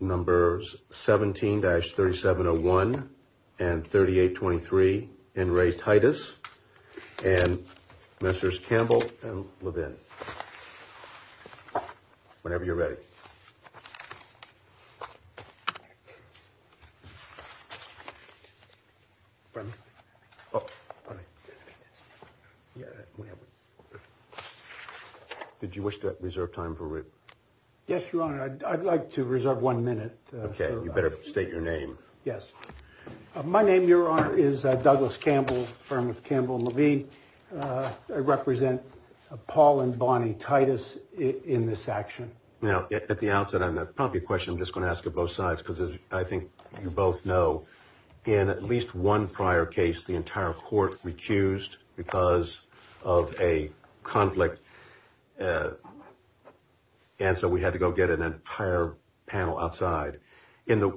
17-3701 and 3823 N. Ray Titus and Messrs. Campbell and Levin. Whenever you're ready. Yes, Your Honor. I'd like to reserve one minute. Okay. You better state your name. Yes. My name, Your Honor, is Douglas Campbell, firm of Campbell and Levin. I represent Paul and Bonnie Titus in this action. Now, at the outset, I'm probably a question I'm just going to ask of both sides, because I think you both know, in at least one prior case, the entire court recused because of a conflict. And so we had to go get an entire panel outside in the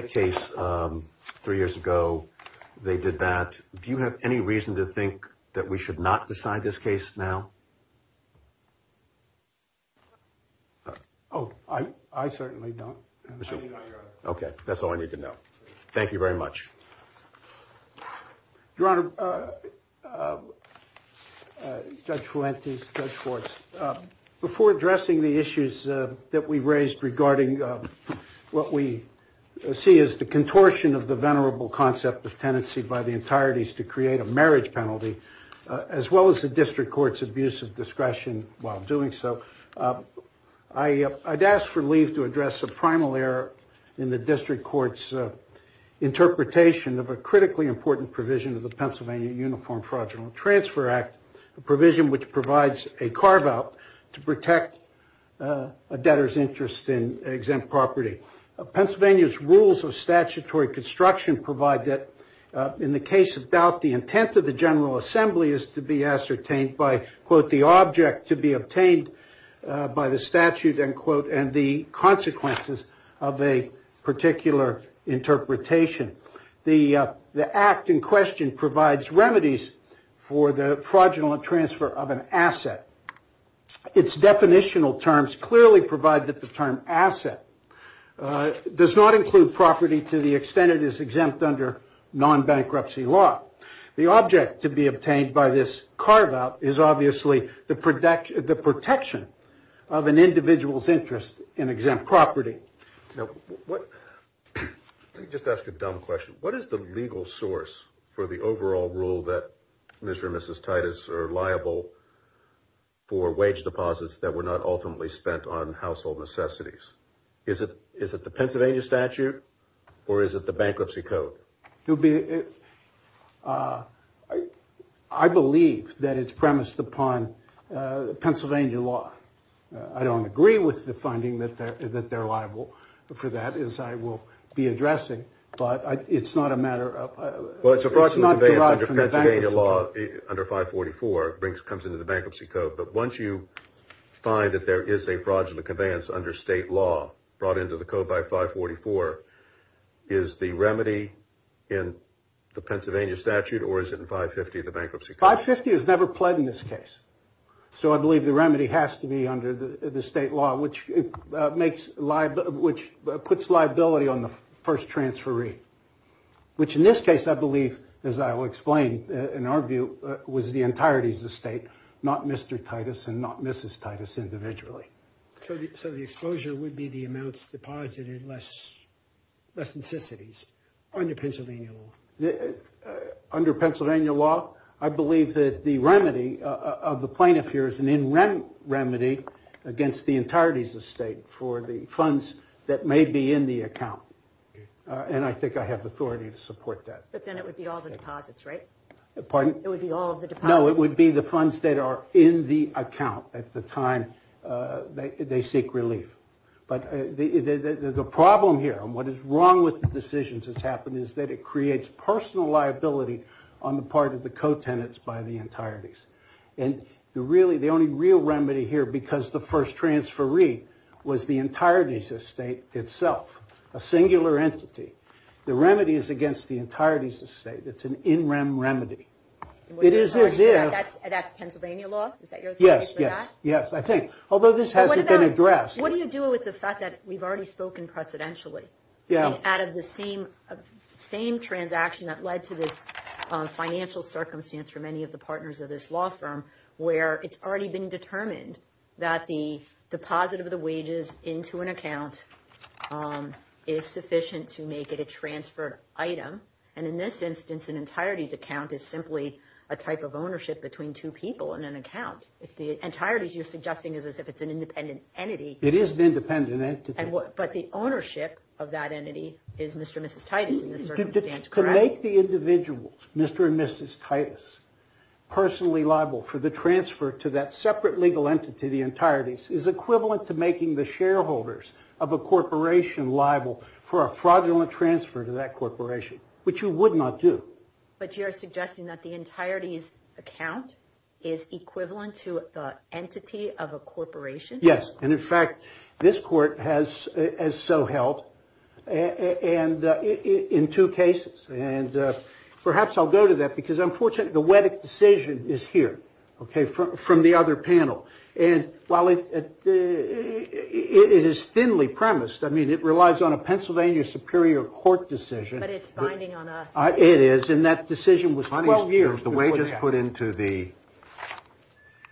case three years ago. They did that. Do you have any reason to think that we should not decide this case now? Oh, I certainly don't. Okay. That's all I need to know. Thank you very much. Your Honor, Judge Fuentes, Judge Schwartz, before addressing the issues that we raised regarding what we see as the contortion of the venerable concept of tenancy by the entireties to create a marriage penalty, as well as the district court's abuse of discretion while doing so, I'd ask for leave to address a primal error in the district court's interpretation of a critically important provision of the Pennsylvania Uniform Fraudulent Transfer Act, a provision which provides a carve-out to protect a debtor's interest in exempt property. Pennsylvania's rules of statutory construction provide that, in the case of doubt, the intent of the General Assembly is to be ascertained by, quote, the object to be obtained by the statute, end quote, and the consequences of a particular interpretation. The act in question provides remedies for the fraudulent transfer of an asset. Its definitional terms clearly provide that the term asset does not include property to the extent it is exempt under non-bankruptcy law. The object to be obtained by this carve-out is obviously the protection of an individual's interest in exempt property. Now, let me just ask a dumb question. What is the legal source for the overall rule that Mr. and Mrs. Titus are liable for wage deposits that were not ultimately spent on household necessities? Is it the Pennsylvania statute, or is it the bankruptcy code? I believe that it's premised upon Pennsylvania law. I don't agree with the finding that they're liable for that, as I will be addressing, but it's not a matter of... under 544 comes into the bankruptcy code, but once you find that there is a fraudulent conveyance under state law brought into the code by 544, is the remedy in the Pennsylvania statute, or is it in 550, the bankruptcy code? In my view, it was the entirety of the state, not Mr. Titus and not Mrs. Titus individually. So the exposure would be the amounts deposited, less necessities, under Pennsylvania law? Under Pennsylvania law, I believe that the remedy of the plaintiff here is an in-rent remedy against the entirety of the state for the funds that may be in the account, and I think I have authority to support that. But then it would be all the deposits, right? Pardon? It would be all of the deposits? No, it would be the funds that are in the account at the time they seek relief. But the problem here, and what is wrong with the decisions that's happened, is that it creates personal liability on the part of the co-tenants by the entireties. And the only real remedy here, because the first transferee was the entirety of the state itself, a singular entity. The remedy is against the entirety of the state. It's an in-rent remedy. That's Pennsylvania law? Yes, yes. Yes, I think. Although this hasn't been addressed. What do you do with the fact that we've already spoken precedentially? Yeah. Out of the same transaction that led to this financial circumstance for many of the partners of this law firm, where it's already been determined that the deposit of the wages into an account is sufficient to make it a transferred item. And in this instance, an entireties account is simply a type of ownership between two people in an account. If the entireties you're suggesting is as if it's an independent entity. It is an independent entity. But the ownership of that entity is Mr. and Mrs. Titus in this circumstance, correct? To make the individuals, Mr. and Mrs. Titus, personally liable for the transfer to that separate legal entity, the entireties, is equivalent to making the shareholders of a corporation liable for a fraudulent transfer to that corporation, which you would not do. But you're suggesting that the entireties account is equivalent to the entity of a corporation? Yes. And in fact, this court has as so helped and in two cases. And perhaps I'll go to that because I'm fortunate. The decision is here. OK, from the other panel. And while it is thinly premised, I mean, it relies on a Pennsylvania Superior Court decision. But it's binding on us. It is. And that decision was 12 years. The wages put into the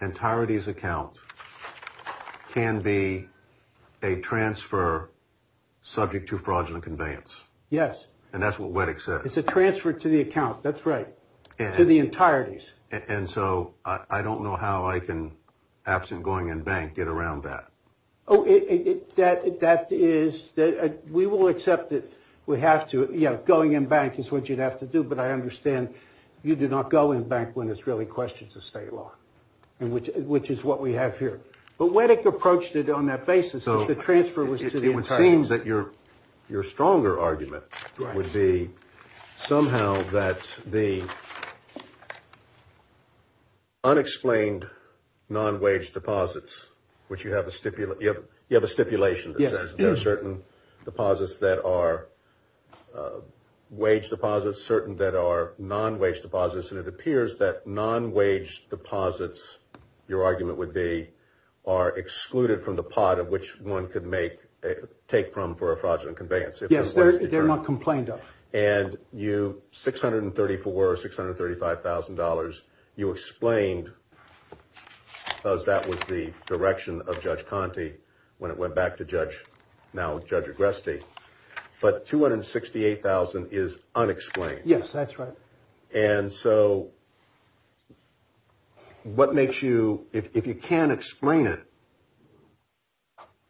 entireties account can be a transfer subject to fraudulent conveyance. Yes. And that's what Wettig said. It's a transfer to the account. That's right. To the entireties. And so I don't know how I can, absent going in bank, get around that. Oh, it that that is that we will accept it. We have to. Yeah. Going in bank is what you'd have to do. But I understand you did not go in bank when it's really questions of state law and which which is what we have here. But when it approached it on that basis, the transfer was. It would seem that your your stronger argument would be somehow that the. Unexplained non-wage deposits, which you have a stipulate, you have you have a stipulation that says there are certain deposits that are wage deposits, certain that are non-wage deposits. And it appears that non-wage deposits, your argument would be are excluded from the pot of which one could make take from for a fraudulent conveyance. Yes, they're not complained of. And you six hundred and thirty four or six hundred thirty five thousand dollars. Yes, that's right. And so what makes you if you can't explain it?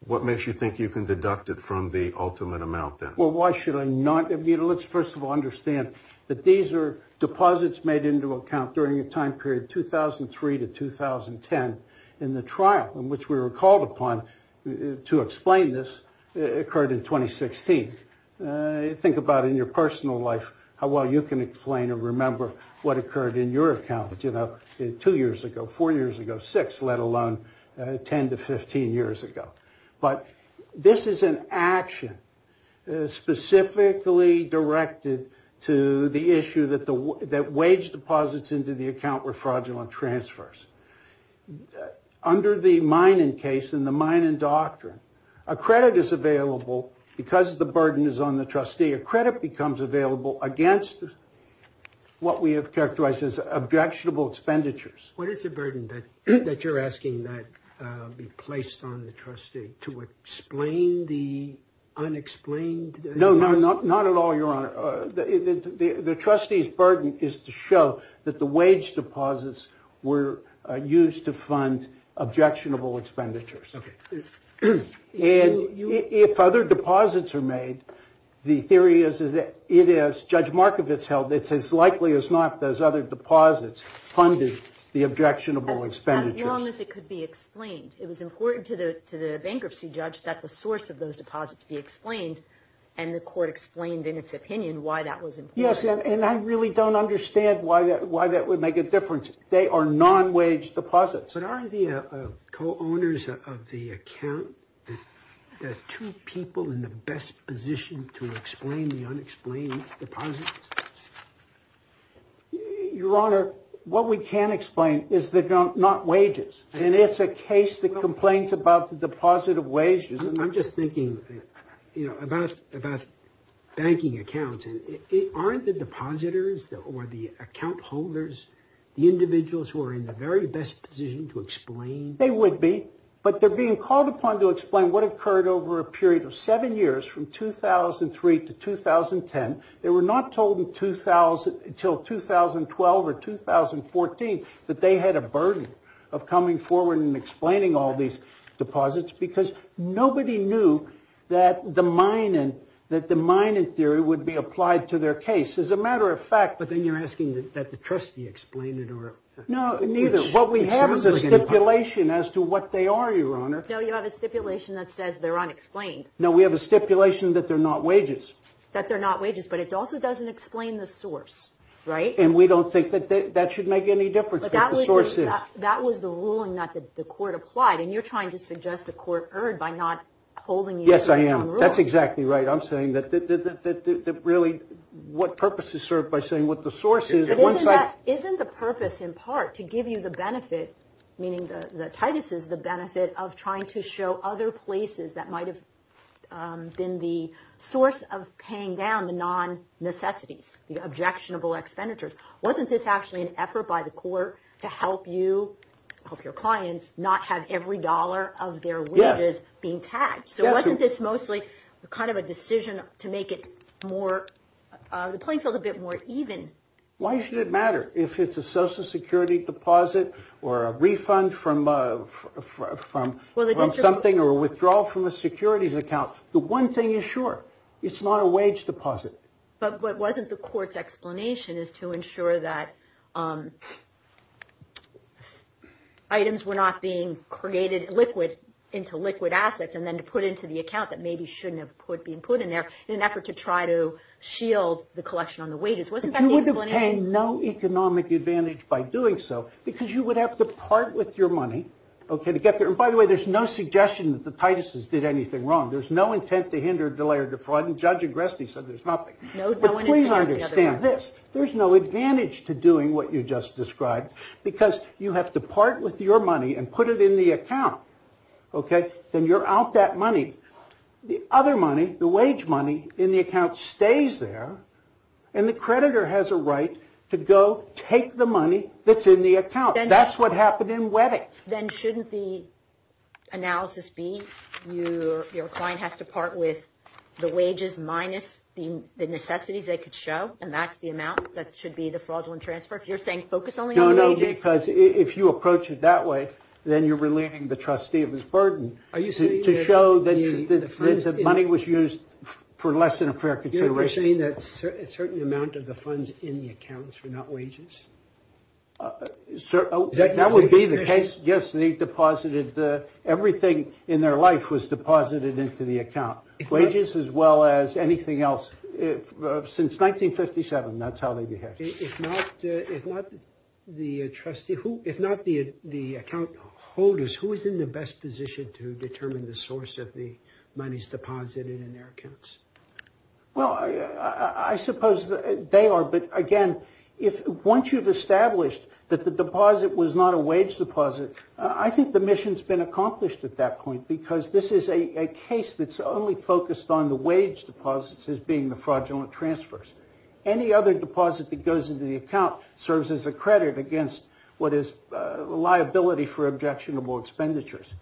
What makes you think you can deduct it from the ultimate amount? Well, why should I not? Let's first of all, understand that these are deposits made into account during a time period 2003 to 2010 in the trial in which we were called upon to explain. This occurred in 2016. Think about in your personal life how well you can explain and remember what occurred in your account. You know, two years ago, four years ago, six, let alone 10 to 15 years ago. But this is an action specifically directed to the issue that the that wage deposits into the account were fraudulent transfers under the mining case in the mining doctrine. A credit is available because the burden is on the trustee. A credit becomes available against what we have characterized as objectionable expenditures. What is the burden that you're asking that be placed on the trustee to explain the unexplained? No, no, not at all. Your honor, the trustee's burden is to show that the wage deposits were used to fund objectionable expenditures. And if other deposits are made, the theory is that it is, Judge Markovitz held, it's as likely as not those other deposits funded the objectionable expenditures. As long as it could be explained. It was important to the bankruptcy judge that the source of those deposits be explained. And the court explained in its opinion why that was. Yes. And I really don't understand why that would make a difference. They are non-wage deposits. But are the co-owners of the account, the two people in the best position to explain the unexplained deposits? Your honor, what we can explain is that not wages. And it's a case that complains about the deposit of wages. And I'm just thinking about banking accounts. And aren't the depositors or the account holders the individuals who are in the very best position to explain? They would be. But they're being called upon to explain what occurred over a period of seven years from 2003 to 2010. They were not told in 2000 until 2012 or 2014 that they had a burden of coming forward and explaining all these deposits. Because nobody knew that the mining that the mining theory would be applied to their case as a matter of fact. But then you're asking that the trustee explain it or. No, neither. What we have is a stipulation as to what they are. Your honor, you have a stipulation that says they're unexplained. Now, we have a stipulation that they're not wages, that they're not wages. But it also doesn't explain the source. Right. And we don't think that that should make any difference. But that was the ruling that the court applied. And you're trying to suggest the court erred by not holding. Yes, I am. That's exactly right. I'm saying that that really what purpose is served by saying what the source is. Isn't the purpose in part to give you the benefit, meaning that Titus is the benefit of trying to show other places that might have been the source of paying down the non necessities, the objectionable expenditures. Wasn't this actually an effort by the court to help you help your clients not have every dollar of their wages being taxed? So wasn't this mostly a kind of a decision to make it more the playing field a bit more even? Why should it matter if it's a Social Security deposit or a refund from from something or withdrawal from a securities account? The one thing is sure, it's not a wage deposit. But what wasn't the court's explanation is to ensure that. Items were not being created liquid into liquid assets and then to put into the account that maybe shouldn't have put being put in there in an effort to try to shield the collection on the wages. Wasn't that you would obtain no economic advantage by doing so because you would have to part with your money to get there. And by the way, there's no suggestion that the Titus's did anything wrong. There's no intent to hinder, delay or defraud. And Judge Agresti said there's nothing. Please understand this. There's no advantage to doing what you just described because you have to part with your money and put it in the account. OK, then you're out that money. The other money, the wage money in the account stays there. And the creditor has a right to go take the money that's in the account. That's what happened in wedding. Then shouldn't the analysis be you? Your client has to part with the wages minus the necessities they could show. And that's the amount that should be the fraudulent transfer. If you're saying focus only. No, no. Because if you approach it that way, then you're relieving the trustee of his burden. Are you saying to show that the money was used for less than a fair consideration? You're saying that a certain amount of the funds in the accounts were not wages. So that would be the case. Yes. They deposited everything in their life was deposited into the account wages as well as anything else since 1957. That's how they behave. If not, if not the trustee, who, if not the account holders, who is in the best position to determine the source of the monies deposited in their accounts? Well, I suppose they are. But again, if once you've established that the deposit was not a wage deposit, I think the mission's been accomplished at that point because this is a case that's only focused on the wage deposits as being the fraudulent transfers. Any other deposit that goes into the account serves as a credit against what is liability for objectionable expenditures.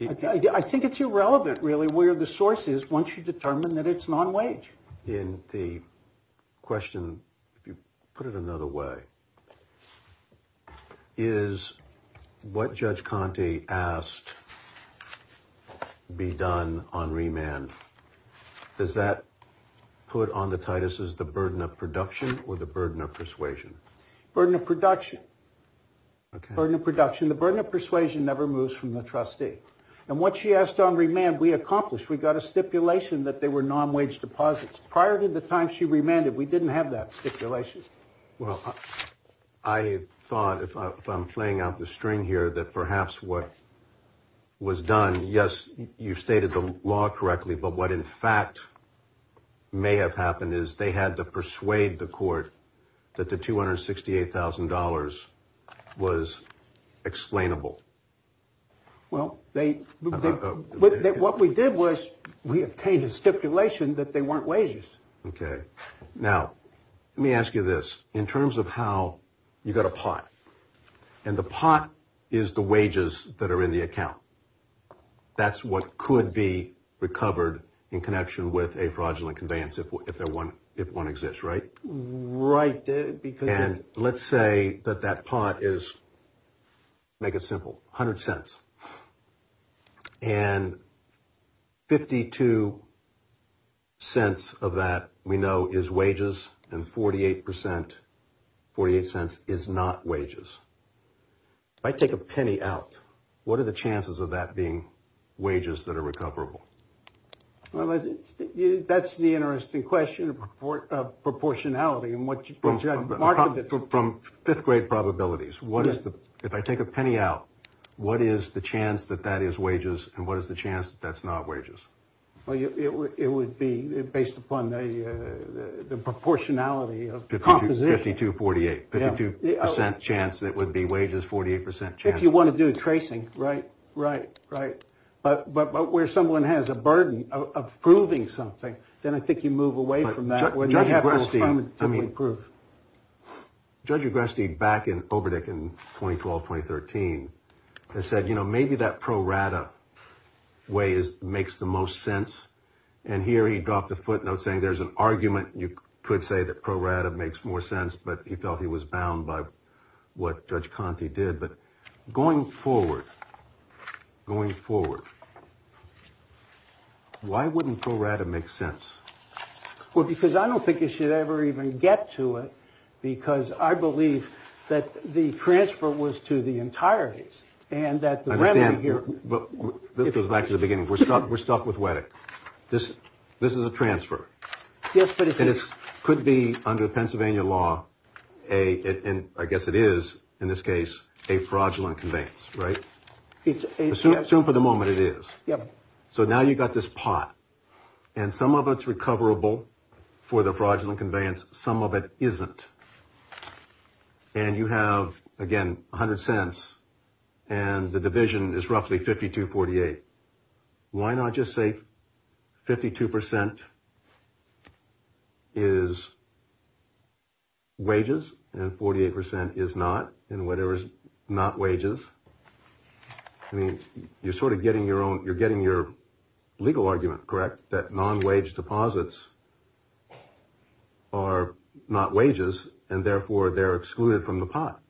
I think it's irrelevant, really, where the source is once you determine that it's non-wage in the question. You put it another way. Is what Judge Conte asked be done on remand? Does that put on the Titus's the burden of production or the burden of persuasion? Burden of production. Burden of production. The burden of persuasion never moves from the trustee. And what she asked on remand, we accomplished. We got a stipulation that they were non-wage deposits. Prior to the time she remanded, we didn't have that stipulation. Well, I thought if I'm playing out the string here, that perhaps what was done, yes, you stated the law correctly. But what, in fact, may have happened is they had to persuade the court that the $268,000 was explainable. Well, what we did was we obtained a stipulation that they weren't wages. OK. Now, let me ask you this. In terms of how you got a pot and the pot is the wages that are in the account. That's what could be recovered in connection with a fraudulent conveyance. If they're one, if one exists. Right. Right. And let's say that that pot is. Make it simple. Hundred cents and. Fifty two cents of that we know is wages and 48 percent for your sense is not wages. I take a penny out. What are the chances of that being wages that are recoverable? Well, that's the interesting question of proportionality and what you can get from fifth grade probabilities. What is the if I take a penny out, what is the chance that that is wages and what is the chance that's not wages? Well, it would be based upon the proportionality of the composition to forty eight percent chance that would be wages. Forty eight percent. If you want to do tracing. Right. Right. Right. But but where someone has a burden of proving something, then I think you move away from that. I mean, prove Judge Agresti back in Oberdeck in 2012, 2013. I said, you know, maybe that pro rata way is makes the most sense. And here he dropped a footnote saying there's an argument. You could say that pro rata makes more sense. But he felt he was bound by what Judge Conti did. But going forward, going forward. Why wouldn't pro rata make sense? Well, because I don't think you should ever even get to it, because I believe that the transfer was to the entireties and that the remedy here. But this goes back to the beginning. We're stuck. We're stuck with what? This this is a transfer. Yes. But it could be under Pennsylvania law. And I guess it is in this case a fraudulent conveyance. Right. It's assumed for the moment it is. Yep. So now you've got this pot and some of it's recoverable for the fraudulent conveyance. Some of it isn't. And you have, again, 100 cents and the division is roughly 50 to 48. Why not just say 52 percent? Is. Wages and 48 percent is not in whatever is not wages. I mean, you're sort of getting your own. You're getting your legal argument, correct? That non-wage deposits are not wages and therefore they're excluded from the pot.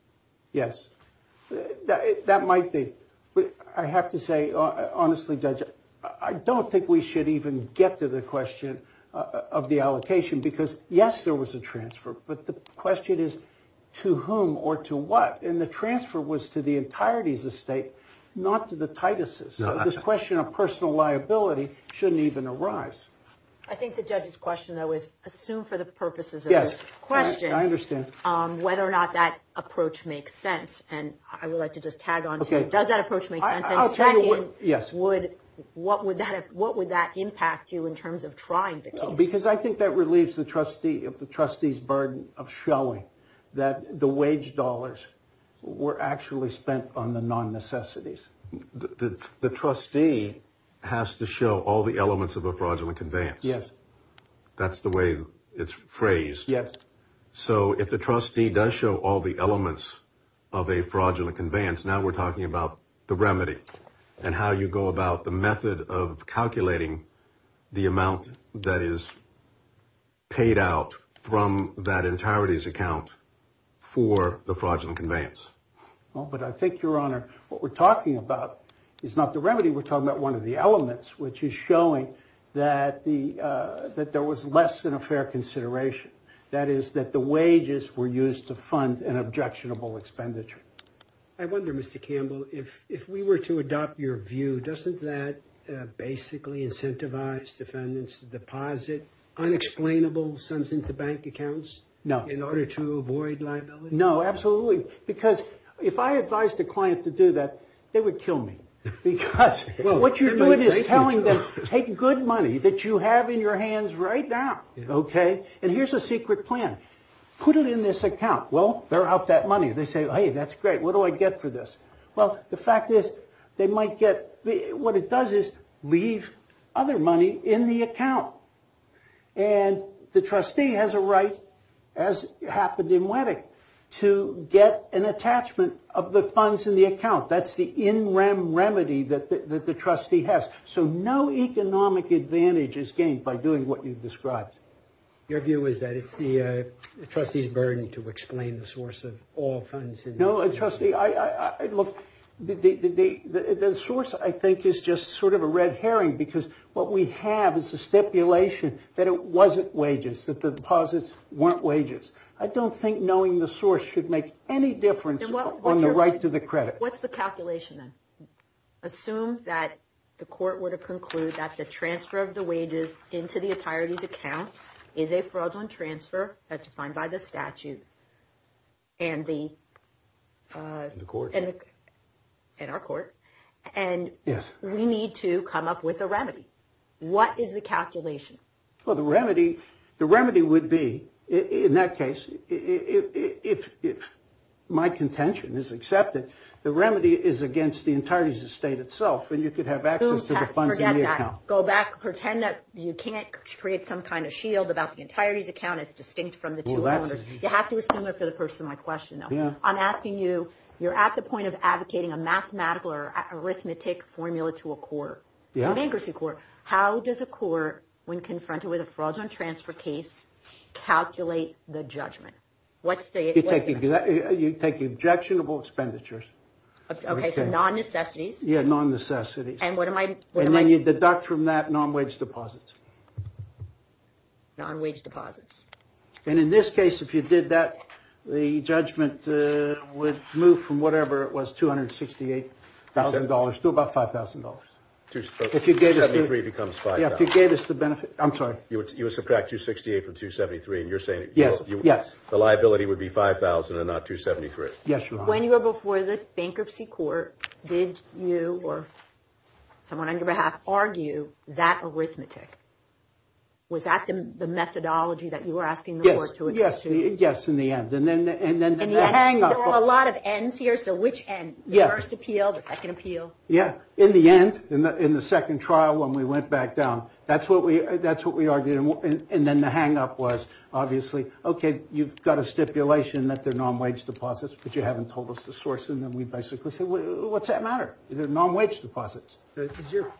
Yes, that might be. But I have to say, honestly, judge, I don't think we should even get to the question of the allocation, because, yes, there was a transfer. But the question is to whom or to what? And the transfer was to the entirety of the state, not to the Titus's. So this question of personal liability shouldn't even arise. I think the judge's question, though, is assumed for the purposes of this question. I understand whether or not that approach makes sense. And I would like to just tag on. Does that approach make sense? Yes. Would. What would that what would that impact you in terms of trying? Because I think that relieves the trustee of the trustee's burden of showing that the wage dollars were actually spent on the non necessities. The trustee has to show all the elements of a fraudulent conveyance. That's the way it's phrased. Yes. So if the trustee does show all the elements of a fraudulent conveyance, now we're talking about the remedy and how you go about the method of calculating the amount that is. Paid out from that entirety's account for the fraudulent conveyance. Well, but I think your honor, what we're talking about is not the remedy. We're talking about one of the elements, which is showing that the that there was less than a fair consideration. That is that the wages were used to fund an objectionable expenditure. I wonder, Mr. Campbell, if if we were to adopt your view, doesn't that basically incentivize defendants to deposit unexplainable sums into bank accounts? No. In order to avoid liability? No, absolutely. Because if I advise the client to do that, they would kill me because what you're doing is telling them, take good money that you have in your hands right now. OK, and here's a secret plan. Put it in this account. Well, they're out that money. They say, hey, that's great. What do I get for this? Well, the fact is they might get what it does is leave other money in the account. And the trustee has a right, as happened in Wedding, to get an attachment of the funds in the account. That's the in rem remedy that the trustee has. So no economic advantage is gained by doing what you've described. Your view is that it's the trustee's burden to explain the source of all funds. No, trustee, I look, the source, I think, is just sort of a red herring because what we have is a stipulation that it wasn't wages that the deposits weren't wages. I don't think knowing the source should make any difference on the right to the credit. What's the calculation then? Assume that the court were to conclude that the transfer of the wages into the attorney's account is a fraudulent transfer. That's defined by the statute. And the court and our court. And yes, we need to come up with a remedy. What is the calculation? Well, the remedy, the remedy would be in that case, if my contention is accepted, the remedy is against the entirety of the state itself. And you could have access to the funds. Go back. Pretend that you can't create some kind of shield about the entirety's account. It's distinct from the two. You have to assume it for the person. My question, though, I'm asking you, you're at the point of advocating a mathematical arithmetic formula to a court bankruptcy court. How does a court, when confronted with a fraudulent transfer case, calculate the judgment? What's the you take? You take objectionable expenditures. OK, so non-necessities. Yeah, non-necessity. And what am I? And then you deduct from that non-wage deposits. Non-wage deposits. And in this case, if you did that, the judgment would move from whatever it was, two hundred sixty eight thousand dollars to about five thousand dollars. If you gave us the benefit, I'm sorry, you subtract two sixty eight from two seventy three. And you're saying, yes, yes, the liability would be five thousand and not two seventy three. Yes. When you go before the bankruptcy court, did you or someone on your behalf argue that arithmetic? Was that the methodology that you were asking? Yes. Yes. Yes. Yes. In the end. And then and then there are a lot of ends here. So which and the first appeal, the second appeal. Yeah. In the end, in the second trial, when we went back down, that's what we that's what we argued. And then the hang up was obviously, OK, you've got a stipulation that they're non-wage deposits, but you haven't told us the source. And then we basically say, well, what's that matter? They're non-wage deposits.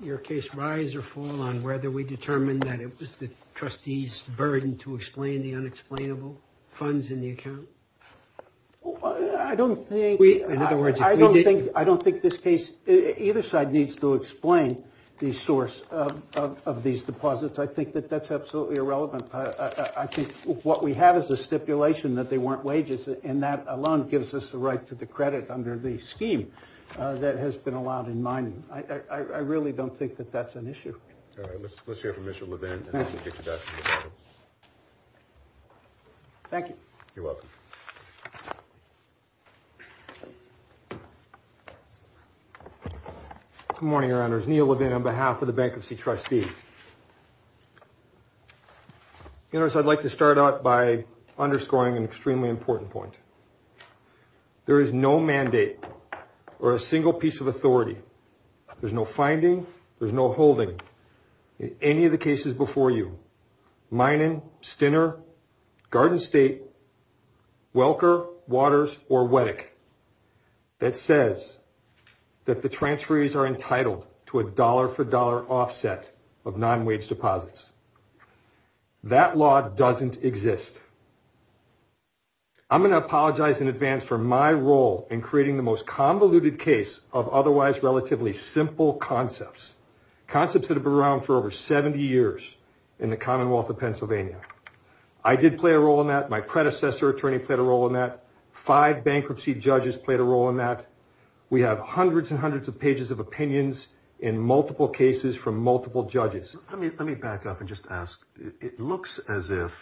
Your case rise or fall on whether we determined that it was the trustees burden to explain the unexplainable funds in the account. Well, I don't think we in other words, I don't think I don't think this case either side needs to explain the source of these deposits. I think that that's absolutely irrelevant. I think what we have is a stipulation that they weren't wages. And that alone gives us the right to the credit under the scheme that has been allowed in mind. I really don't think that that's an issue. Let's hear from Mr. Levin. Thank you. You're welcome. Good morning, your honor's Neil Levin on behalf of the bankruptcy trustee. You know, I'd like to start out by underscoring an extremely important point. There is no mandate or a single piece of authority. There's no finding. There's no holding any of the cases before you. Minen, Stinner, Garden State, Welker, Waters or Weddock. That says that the transferees are entitled to a dollar for dollar offset of non-wage deposits. That law doesn't exist. I'm going to apologize in advance for my role in creating the most convoluted case of otherwise relatively simple concepts, concepts that have been around for over 70 years in the Commonwealth of Pennsylvania. I did play a role in that. My predecessor attorney played a role in that. Five bankruptcy judges played a role in that. We have hundreds and hundreds of pages of opinions in multiple cases from multiple judges. I mean, let me back up and just ask. It looks as if.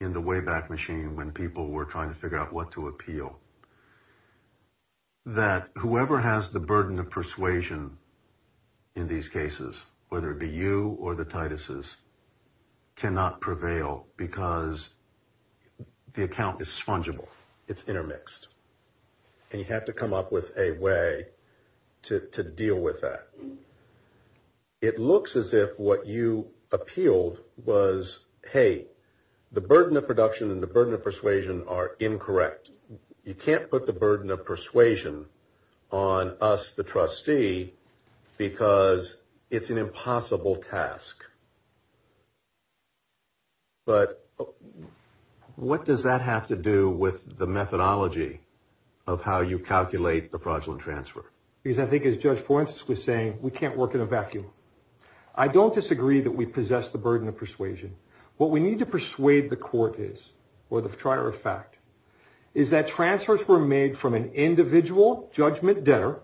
In the way back machine, when people were trying to figure out what to appeal. That whoever has the burden of persuasion. In these cases, whether it be you or the Titus's. Cannot prevail because the account is fungible, it's intermixed. And you have to come up with a way to deal with that. It looks as if what you appealed was, hey, the burden of production and the burden of persuasion are incorrect. You can't put the burden of persuasion on us, the trustee, because it's an impossible task. But what does that have to do with the methodology of how you calculate the fraudulent transfer? Because I think, as Judge Forensics was saying, we can't work in a vacuum. I don't disagree that we possess the burden of persuasion. What we need to persuade the court is or the prior effect is that transfers were made from an individual judgment debtor.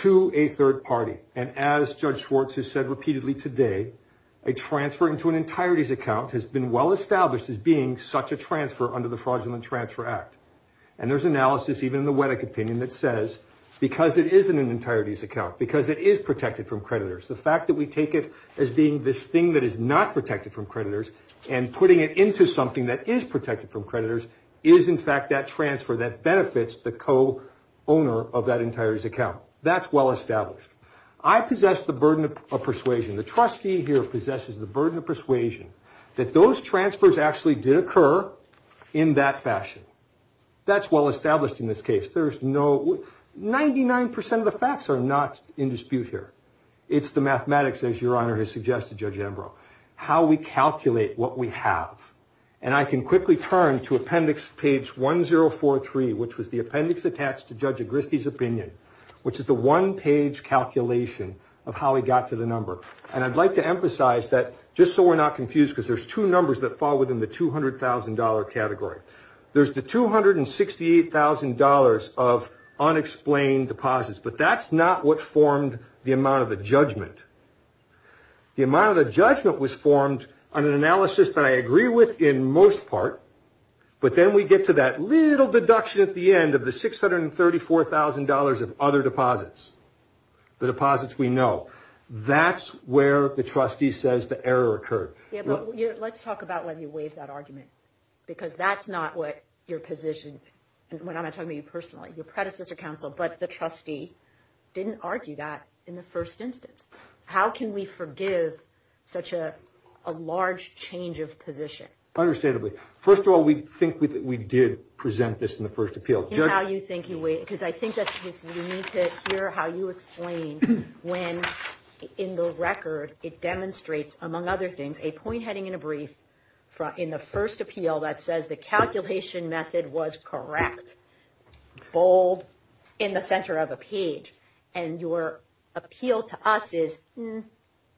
To a third party. And as Judge Schwartz has said repeatedly today, a transfer into an entirety's account has been well established as being such a transfer under the fraudulent transfer act. And there's analysis, even in the Weddock opinion, that says because it isn't an entirety's account, because it is protected from creditors. The fact that we take it as being this thing that is not protected from creditors. And putting it into something that is protected from creditors is, in fact, that transfer that benefits the co-owner of that entirety's account. That's well established. I possess the burden of persuasion. The trustee here possesses the burden of persuasion that those transfers actually did occur in that fashion. That's well established in this case. There's no – 99% of the facts are not in dispute here. It's the mathematics, as Your Honor has suggested, Judge Ambrose. How we calculate what we have. And I can quickly turn to appendix page 1043, which was the appendix attached to Judge Agristi's opinion, which is the one-page calculation of how we got to the number. And I'd like to emphasize that, just so we're not confused, because there's two numbers that fall within the $200,000 category. There's the $268,000 of unexplained deposits. But that's not what formed the amount of the judgment. The amount of the judgment was formed on an analysis that I agree with in most part. But then we get to that little deduction at the end of the $634,000 of other deposits. The deposits we know. That's where the trustee says the error occurred. Yeah, but let's talk about when you waive that argument. Because that's not what your position – when I'm talking to you personally. Your predecessor counsel. But the trustee didn't argue that in the first instance. How can we forgive such a large change of position? Understandably. First of all, we think that we did present this in the first appeal. In how you think you weigh it. Because I think that we need to hear how you explain when, in the record, it demonstrates, among other things, a point heading in a brief. In the first appeal, that says the calculation method was correct. Bold. In the center of a page. And your appeal to us is,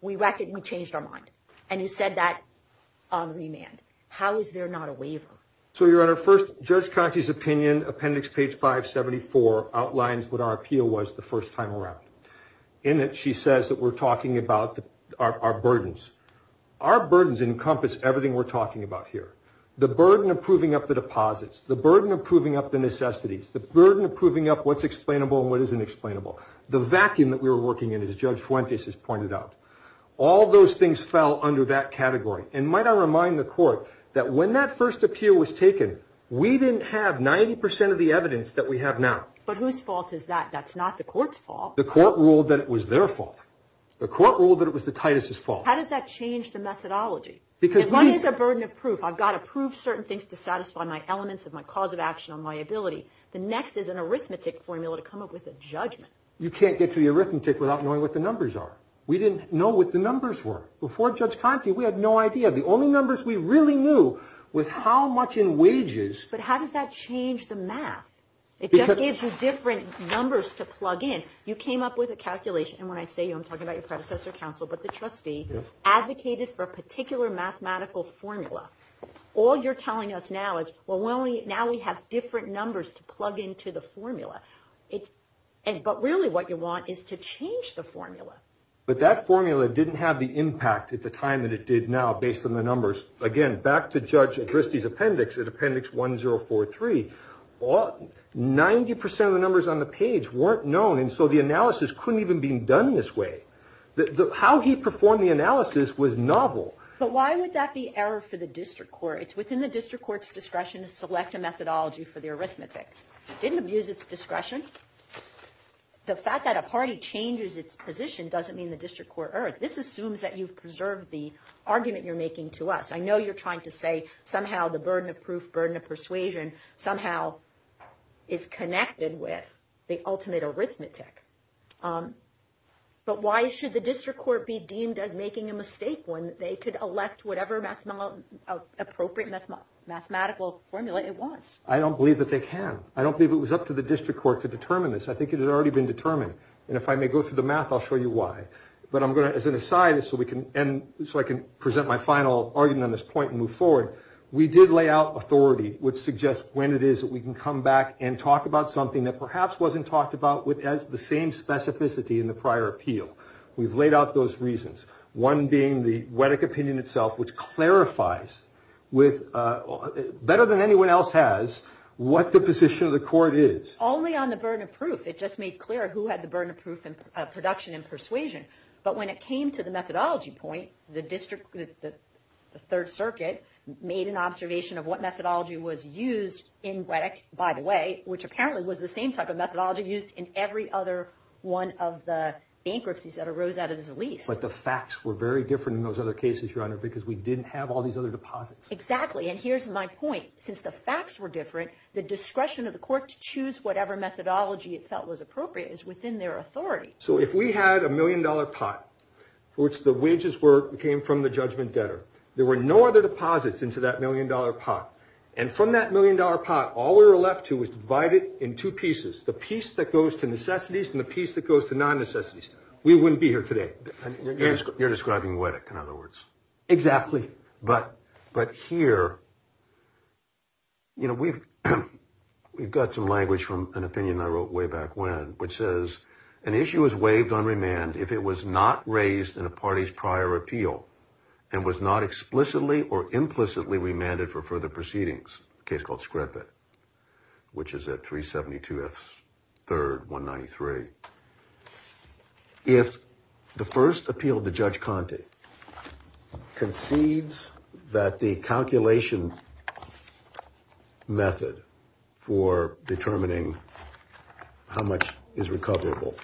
we changed our mind. And you said that on remand. How is there not a waiver? So, Your Honor, first, Judge Cochise's opinion, appendix page 574, outlines what our appeal was the first time around. In it, she says that we're talking about our burdens. Our burdens encompass everything we're talking about here. The burden of proving up the deposits. The burden of proving up the necessities. The burden of proving up what's explainable and what isn't explainable. The vacuum that we were working in, as Judge Fuentes has pointed out. All those things fell under that category. And might I remind the Court that when that first appeal was taken, we didn't have 90% of the evidence that we have now. But whose fault is that? That's not the Court's fault. The Court ruled that it was their fault. The Court ruled that it was the Titus' fault. How does that change the methodology? If one is a burden of proof, I've got to prove certain things to satisfy my elements of my cause of action on liability. The next is an arithmetic formula to come up with a judgment. You can't get to the arithmetic without knowing what the numbers are. We didn't know what the numbers were. Before Judge Conte, we had no idea. The only numbers we really knew was how much in wages. But how does that change the math? It just gives you different numbers to plug in. You came up with a calculation. And when I say you, I'm talking about your predecessor counsel, but the trustee advocated for a particular mathematical formula. All you're telling us now is, well, now we have different numbers to plug into the formula. But really what you want is to change the formula. But that formula didn't have the impact at the time that it did now, based on the numbers. Again, back to Judge Dristey's appendix, at appendix 1043, 90% of the numbers on the page weren't known. And so the analysis couldn't even be done this way. How he performed the analysis was novel. But why would that be error for the district court? It's within the district court's discretion to select a methodology for the arithmetic. It didn't abuse its discretion. The fact that a party changes its position doesn't mean the district court erred. This assumes that you've preserved the argument you're making to us. I know you're trying to say somehow the burden of proof, burden of persuasion, somehow is connected with the ultimate arithmetic. But why should the district court be deemed as making a mistake when they could elect whatever appropriate mathematical formula it wants? I don't believe that they can. I don't believe it was up to the district court to determine this. I think it had already been determined. And if I may go through the math, I'll show you why. But I'm going to, as an aside, so I can present my final argument on this point and move forward, we did lay out authority, which suggests when it is that we can come back and talk about something that perhaps wasn't talked about with the same specificity in the prior appeal. We've laid out those reasons. One being the Whittock opinion itself, which clarifies better than anyone else has what the position of the court is. Only on the burden of proof. It just made clear who had the burden of proof and production and persuasion. But when it came to the methodology point, the third circuit made an observation of what methodology was used in Whittock, by the way, which apparently was the same type of methodology used in every other one of the bankruptcies that arose out of this lease. But the facts were very different in those other cases, Your Honor, because we didn't have all these other deposits. Exactly. And here's my point. Since the facts were different, the discretion of the court to choose whatever methodology it felt was appropriate is within their authority. So if we had a million dollar pot for which the wages were came from the judgment debtor, there were no other deposits into that million dollar pot. And from that million dollar pot, all we were left to was divided in two pieces, the piece that goes to necessities and the piece that goes to non necessities. We wouldn't be here today. You're describing Whittock, in other words. Exactly. But but here. You know, we've we've got some language from an opinion I wrote way back when, which says an issue is waived on remand if it was not raised in a party's prior appeal and was not explicitly or implicitly remanded for further proceedings. Case called Scrappett, which is at three seventy two. Third, one ninety three. If the first appeal to Judge Conte concedes that the calculation method for determining how much is recoverable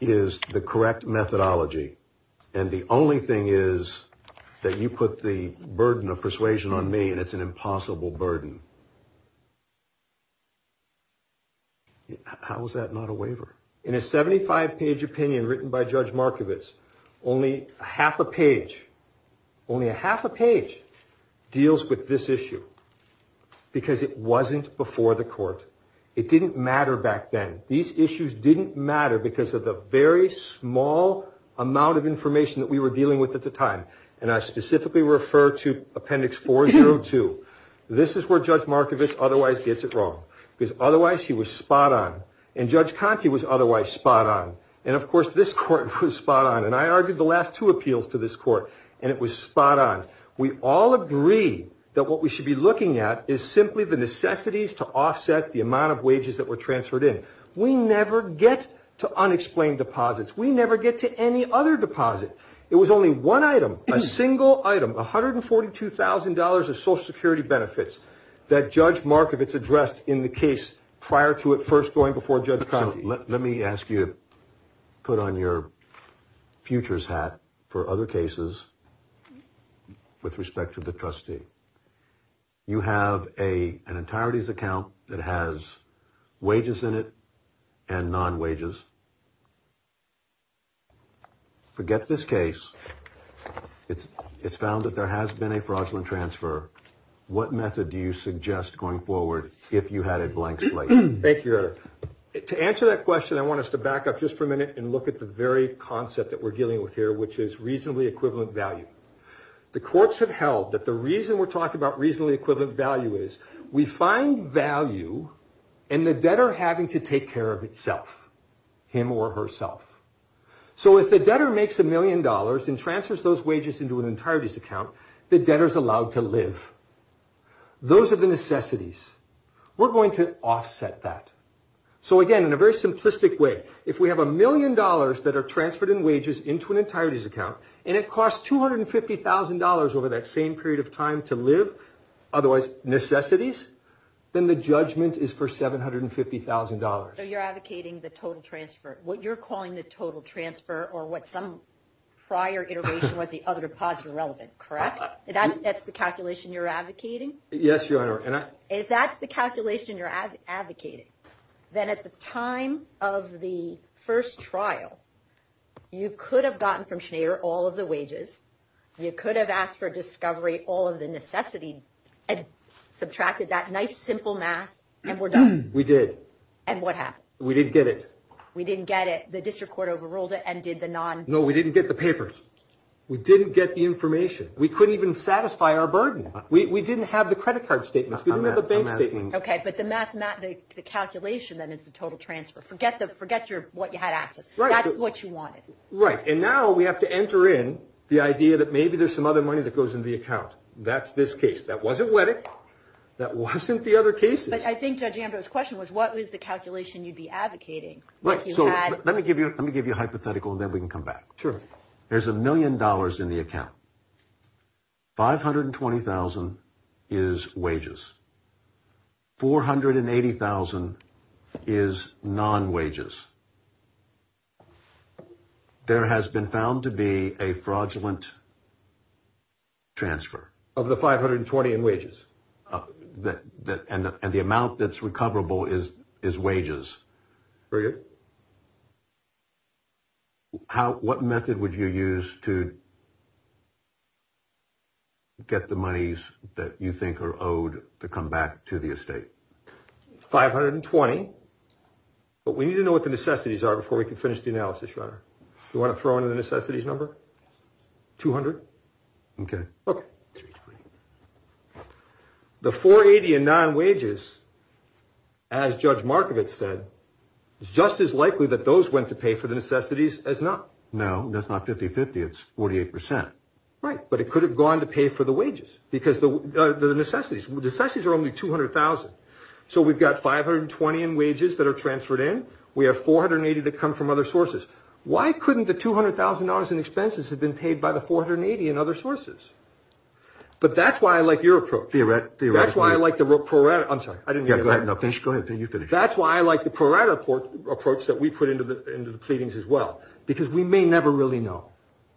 is the correct methodology. And the only thing is that you put the burden of persuasion on me and it's an impossible burden. How is that not a waiver in a 75 page opinion written by Judge Markowitz? Only half a page. Only a half a page deals with this issue because it wasn't before the court. It didn't matter back then. These issues didn't matter because of the very small amount of information that we were dealing with at the time. And I specifically refer to Appendix four zero two. This is where Judge Markowitz otherwise gets it wrong, because otherwise he was spot on. And Judge Conte was otherwise spot on. And of course, this court was spot on. And I argued the last two appeals to this court and it was spot on. We all agree that what we should be looking at is simply the necessities to offset the amount of wages that were transferred in. We never get to unexplained deposits. We never get to any other deposit. It was only one item, a single item, one hundred and forty two thousand dollars of Social Security benefits that Judge Markowitz addressed in the case prior to it first going before Judge Conte. Let me ask you to put on your futures hat for other cases with respect to the trustee. You have a an entireties account that has wages in it and non wages. Forget this case. It's it's found that there has been a fraudulent transfer. What method do you suggest going forward if you had a blank slate? Thank you. To answer that question, I want us to back up just for a minute and look at the very concept that we're dealing with here, which is reasonably equivalent value. The courts have held that the reason we're talking about reasonably equivalent value is we find value in the debtor having to take care of itself, him or herself. So if the debtor makes a million dollars and transfers those wages into an entireties account, the debtors allowed to live. Those are the necessities we're going to offset that. So, again, in a very simplistic way, if we have a million dollars that are transferred in wages into an entireties account and it costs two hundred and fifty thousand dollars over that same period of time to live. Otherwise, necessities, then the judgment is for seven hundred and fifty thousand dollars. So you're advocating the total transfer, what you're calling the total transfer or what some prior integration was, the other deposit relevant, correct? That's that's the calculation you're advocating. Yes, you are. And if that's the calculation you're advocating, then at the time of the first trial, you could have gotten from Schneider all of the wages. You could have asked for discovery, all of the necessity and subtracted that nice, simple math and we're done. We did. And what happened? We didn't get it. We didn't get it. The district court overruled it and did the non. No, we didn't get the papers. We didn't get the information. We couldn't even satisfy our burden. We didn't have the credit card statements. We didn't have a bank statement. OK, but the math, the calculation, then it's the total transfer. Forget the forget your what you had access. Right. That's what you wanted. Right. And now we have to enter in the idea that maybe there's some other money that goes into the account. That's this case. That was a wedding. That wasn't the other case. But I think Judge Amber's question was, what is the calculation you'd be advocating? Right. So let me give you let me give you a hypothetical and then we can come back. Sure. There's a million dollars in the account. Five hundred and twenty thousand is wages. Four hundred and eighty thousand is non wages. There has been found to be a fraudulent. Transfer of the five hundred and twenty in wages that that and the amount that's recoverable is is wages. Very good. How what method would you use to. Get the monies that you think are owed to come back to the estate. Five hundred and twenty. But we need to know what the necessities are before we can finish the analysis runner. We want to throw in the necessities number two hundred. OK. The 480 and non wages. As Judge Markovits said, it's just as likely that those went to pay for the necessities as not. No, that's not 50 50. It's 48 percent. Right. But it could have gone to pay for the wages because the necessities, the necessities are only two hundred thousand. So we've got five hundred and twenty in wages that are transferred in. We have four hundred and eighty to come from other sources. Why couldn't the two hundred thousand dollars in expenses have been paid by the four hundred and eighty and other sources. But that's why I like your approach. Theoretically, that's why I like the report. I'm sorry. I didn't get that. No, thanks. Go ahead. Can you finish? That's why I like the pro rata port approach that we put into the into the pleadings as well, because we may never really know.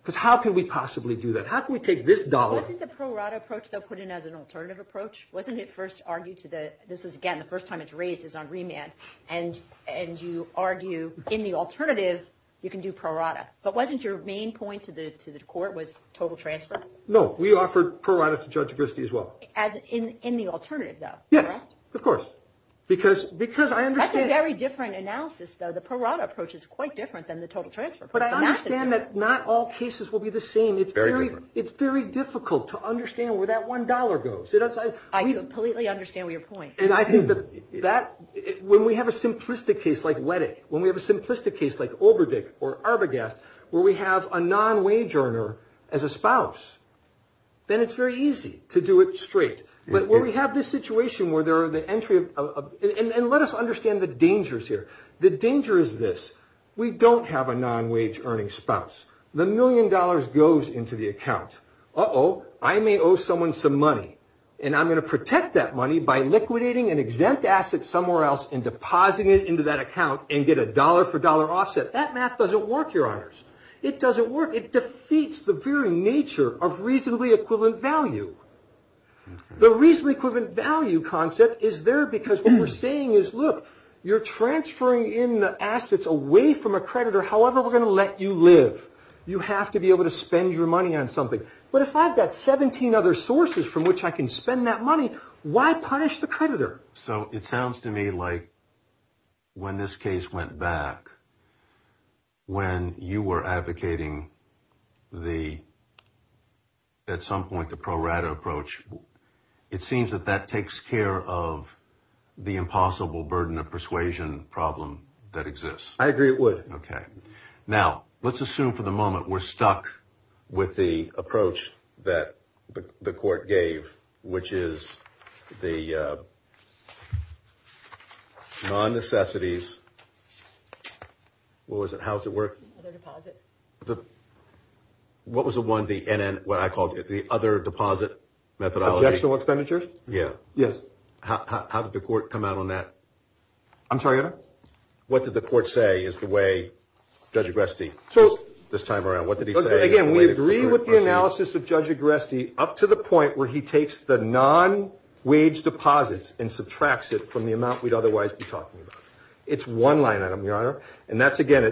Because how can we possibly do that? How can we take this dollar in the pro rata approach? They'll put in as an alternative approach. Wasn't it first argued to the. This is, again, the first time it's raised is on remand. And and you argue in the alternative, you can do pro rata. But wasn't your main point to the to the court was total transfer? No, we offered pro rata to Judge Christie as well as in in the alternative, though. Yeah, of course. Because because I understand. Very different analysis, though. The pro rata approach is quite different than the total transfer. But I understand that not all cases will be the same. It's very different. It's very difficult to understand where that one dollar goes. I completely understand your point. And I think that that when we have a simplistic case like wedding, when we have a simplistic case like Oberdyke or Arbogast, where we have a non wage earner as a spouse, then it's very easy to do it straight. But where we have this situation where there are the entry of. And let us understand the dangers here. The danger is this. We don't have a non wage earning spouse. The million dollars goes into the account. Oh, I may owe someone some money. And I'm going to protect that money by liquidating an exempt asset somewhere else and depositing it into that account and get a dollar for dollar offset. That math doesn't work. Your honors. It doesn't work. It defeats the very nature of reasonably equivalent value. The reasonably equivalent value concept is there because we're saying is, look, you're transferring in the assets away from a creditor. However, we're going to let you live. You have to be able to spend your money on something. But if I've got 17 other sources from which I can spend that money, why punish the creditor? So it sounds to me like when this case went back. When you were advocating the. At some point, the pro rata approach, it seems that that takes care of the impossible burden of persuasion problem that exists. I agree it would. OK, now let's assume for the moment we're stuck with the approach that the court gave, which is the non necessities. What was it? What was the one the NN, what I called it, the other deposit methodology expenditures. Yeah. Yes. How did the court come out on that? I'm sorry. What did the court say is the way Judge Agresti. So this time around, what did he say? Again, we agree with the analysis of Judge Agresti up to the point where he takes the non wage deposits and subtracts it from the amount we'd otherwise be talking about. It's one line item, Your Honor. And that's, again,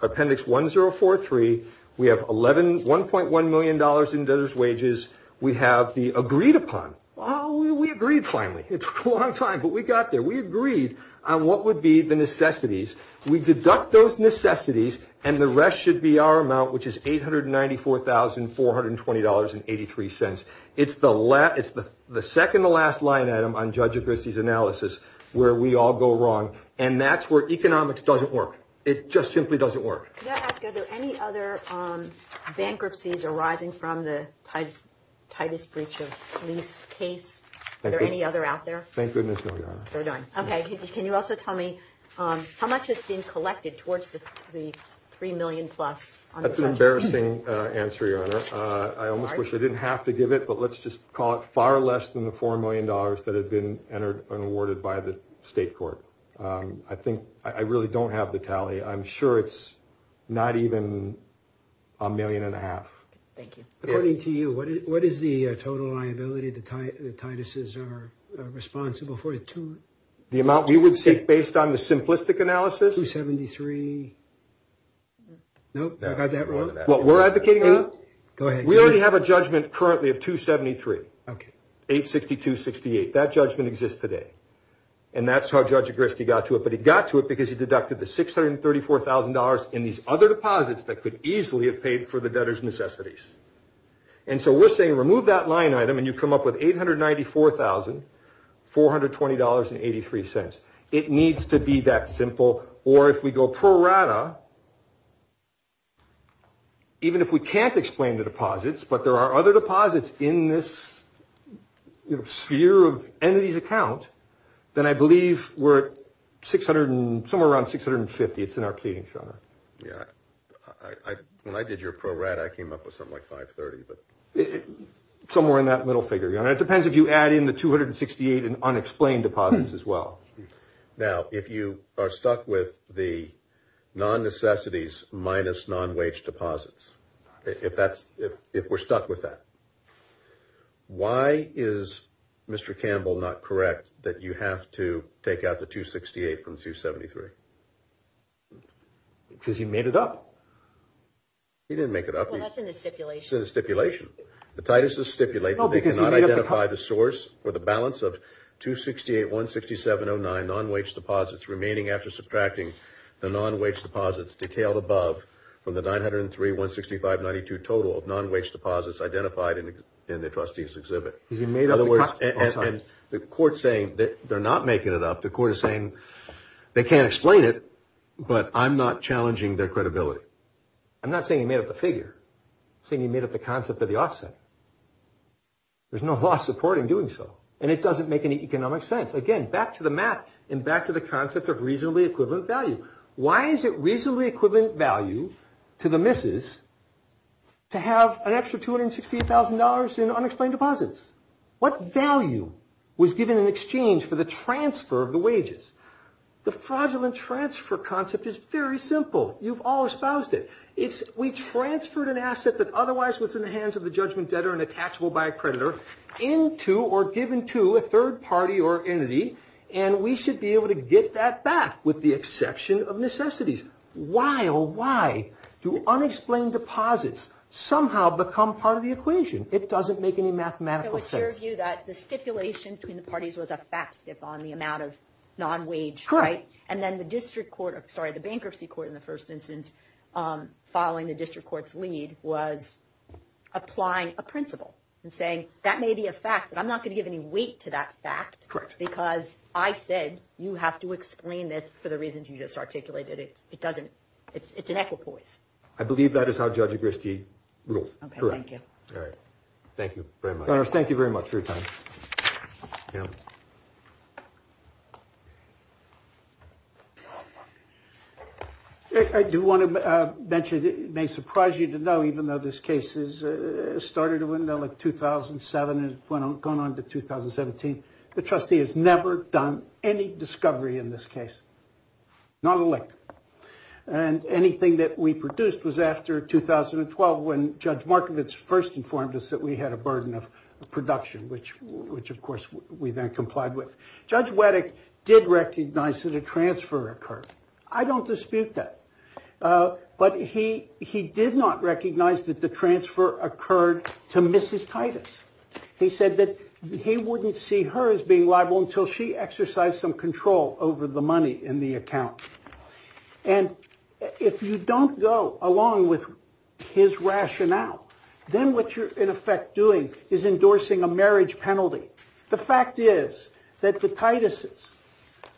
appendix one zero four three. We have eleven one point one million dollars in those wages. We have the agreed upon. Oh, we agreed. Finally, it's a long time. But we got there. We agreed on what would be the necessities. We deduct those necessities and the rest should be our amount, which is eight hundred ninety four thousand four hundred and twenty dollars and eighty three cents. It's the last. It's the second, the last line item on Judge Agresti's analysis where we all go wrong and that's where economics doesn't work. It just simply doesn't work. Any other bankruptcies arising from the tightest, tightest breach of lease case? Are there any other out there? Thank goodness. No. OK. Can you also tell me how much has been collected towards the three million plus? That's an embarrassing answer, Your Honor. I almost wish I didn't have to give it. But let's just call it far less than the four million dollars that had been entered and awarded by the state court. I think I really don't have the tally. I'm sure it's not even a million and a half. Thank you. According to you, what is the total liability? The tightnesses are responsible for the amount we would say based on the simplistic analysis. Two seventy three. No, I got that wrong. What we're advocating on. Go ahead. We already have a judgment currently of two seventy three. OK. Eight sixty two sixty eight. That judgment exists today. And that's how Judge Agresti got to it. But he got to it because he deducted the six hundred and thirty four thousand dollars in these other deposits that could easily have paid for the debtor's necessities. And so we're saying remove that line item and you come up with eight hundred ninety four thousand four hundred twenty dollars and eighty three cents. It needs to be that simple. Or if we go pro rata. Even if we can't explain the deposits, but there are other deposits in this sphere of entities account, then I believe we're six hundred and somewhere around six hundred and fifty. It's an arcading. Yeah, I when I did your program, I came up with something like five thirty. Somewhere in that middle figure, you know, it depends if you add in the two hundred and sixty eight and unexplained deposits as well. Now, if you are stuck with the non necessities minus non wage deposits, if that's if we're stuck with that. Why is Mr. Campbell not correct that you have to take out the two sixty eight from two seventy three? Because he made it up. He didn't make it up. Well, that's in the stipulation stipulation. The Titus is stipulated because I identify the source for the balance of two sixty eight one sixty seven oh nine non wage deposits remaining after subtracting the non wage deposits detailed above from the nine hundred and three one sixty five ninety two total of non wage deposits identified in the trustees exhibit. In other words, the court saying that they're not making it up. The court is saying they can't explain it, but I'm not challenging their credibility. I'm not saying he made up the figure, saying he made up the concept of the offset. There's no law supporting doing so. And it doesn't make any economic sense. Again, back to the math and back to the concept of reasonably equivalent value. Why is it reasonably equivalent value to the missus to have an extra two hundred sixty thousand dollars in unexplained deposits? What value was given in exchange for the transfer of the wages? The fraudulent transfer concept is very simple. You've all espoused it. It's we transferred an asset that otherwise was in the hands of the judgment debtor and attachable by a predator into or given to a third party or entity. And we should be able to get that back with the exception of necessities. Why or why do unexplained deposits somehow become part of the equation? It doesn't make any mathematical sense. It was your view that the stipulation between the parties was a fat skip on the amount of non wage. Right. And then the district court. Sorry. The bankruptcy court in the first instance following the district court's lead was applying a principle and saying that may be a fact. But I'm not going to give any weight to that fact because I said you have to explain this for the reasons you just articulated it. It doesn't. It's an equipoise. I believe that is how Judge Christie wrote. All right. Thank you very much. Thank you very much for your time. I do want to mention it may surprise you to know, even though this case is started when the 2007 is going on to 2017. The trustee has never done any discovery in this case. Not a lick. And anything that we produced was after 2012 when Judge Markovits first informed us that we had a burden of production, which which, of course, we then complied with. Judge Wettig did recognize that a transfer occurred. I don't dispute that. But he he did not recognize that the transfer occurred to Mrs. Titus. He said that he wouldn't see her as being liable until she exercised some control over the money in the account. And if you don't go along with his rationale, then what you're in effect doing is endorsing a marriage penalty. The fact is that the Titus's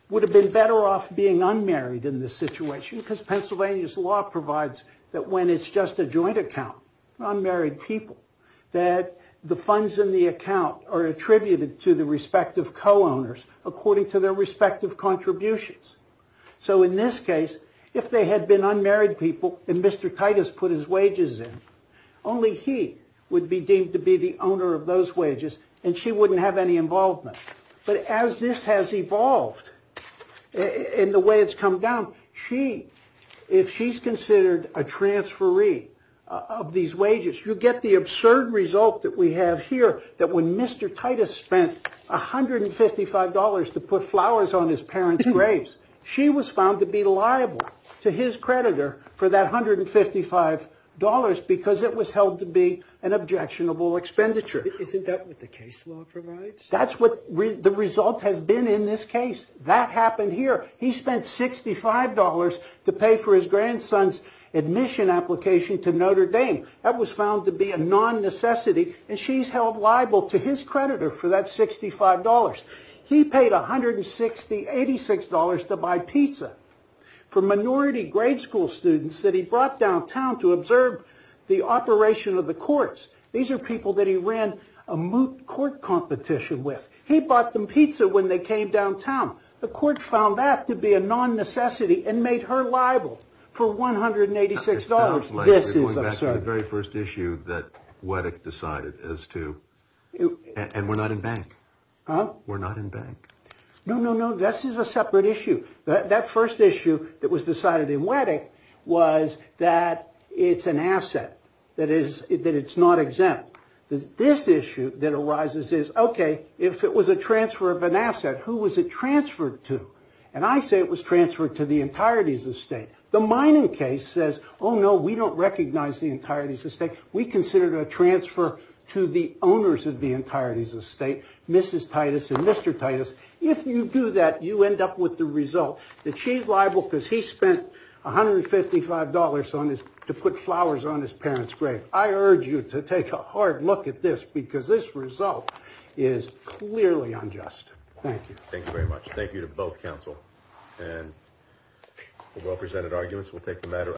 would have been better off being unmarried in this situation because Pennsylvania's law provides that when it's just a joint account, unmarried people, that the funds in the account are attributed to the respective co-owners according to their respective contributions. So in this case, if they had been unmarried people and Mr. Titus put his wages in, only he would be deemed to be the owner of those wages and she wouldn't have any involvement. But as this has evolved in the way it's come down, she if she's considered a transferee of these wages, you get the absurd result that we have here that when Mr. Titus spent one hundred and fifty five dollars to put flowers on his parents graves, she was found to be liable to his creditor for that one hundred and fifty five dollars because it was held to be an objectionable expenditure. Isn't that what the case law provides? That's what the result has been in this case. That happened here. He spent sixty five dollars to pay for his grandson's admission application to Notre Dame. That was found to be a non necessity and she's held liable to his creditor for that sixty five dollars. He paid one hundred and sixty eighty six dollars to buy pizza for minority grade school students that he brought downtown to observe the operation of the courts. These are people that he ran a moot court competition with. He bought them pizza when they came downtown. The court found that to be a non necessity and made her liable for one hundred and eighty six dollars. This is the very first issue that Whittock decided as to. And we're not in bank. We're not in bank. No, no, no. This is a separate issue. That first issue that was decided in Whittock was that it's an asset that is that it's not exempt. This issue that arises is, OK, if it was a transfer of an asset, who was it transferred to? And I say it was transferred to the entirety of the state. The mining case says, oh, no, we don't recognize the entirety of the state. We consider it a transfer to the owners of the entirety of the state. Mrs. Titus and Mr. Titus, if you do that, you end up with the result that she's liable because he spent one hundred and fifty five dollars on this to put flowers on his parents. Great. I urge you to take a hard look at this because this result is clearly unjust. Thank you. Thank you very much. Thank you to both counsel and well presented arguments. We'll take the matter.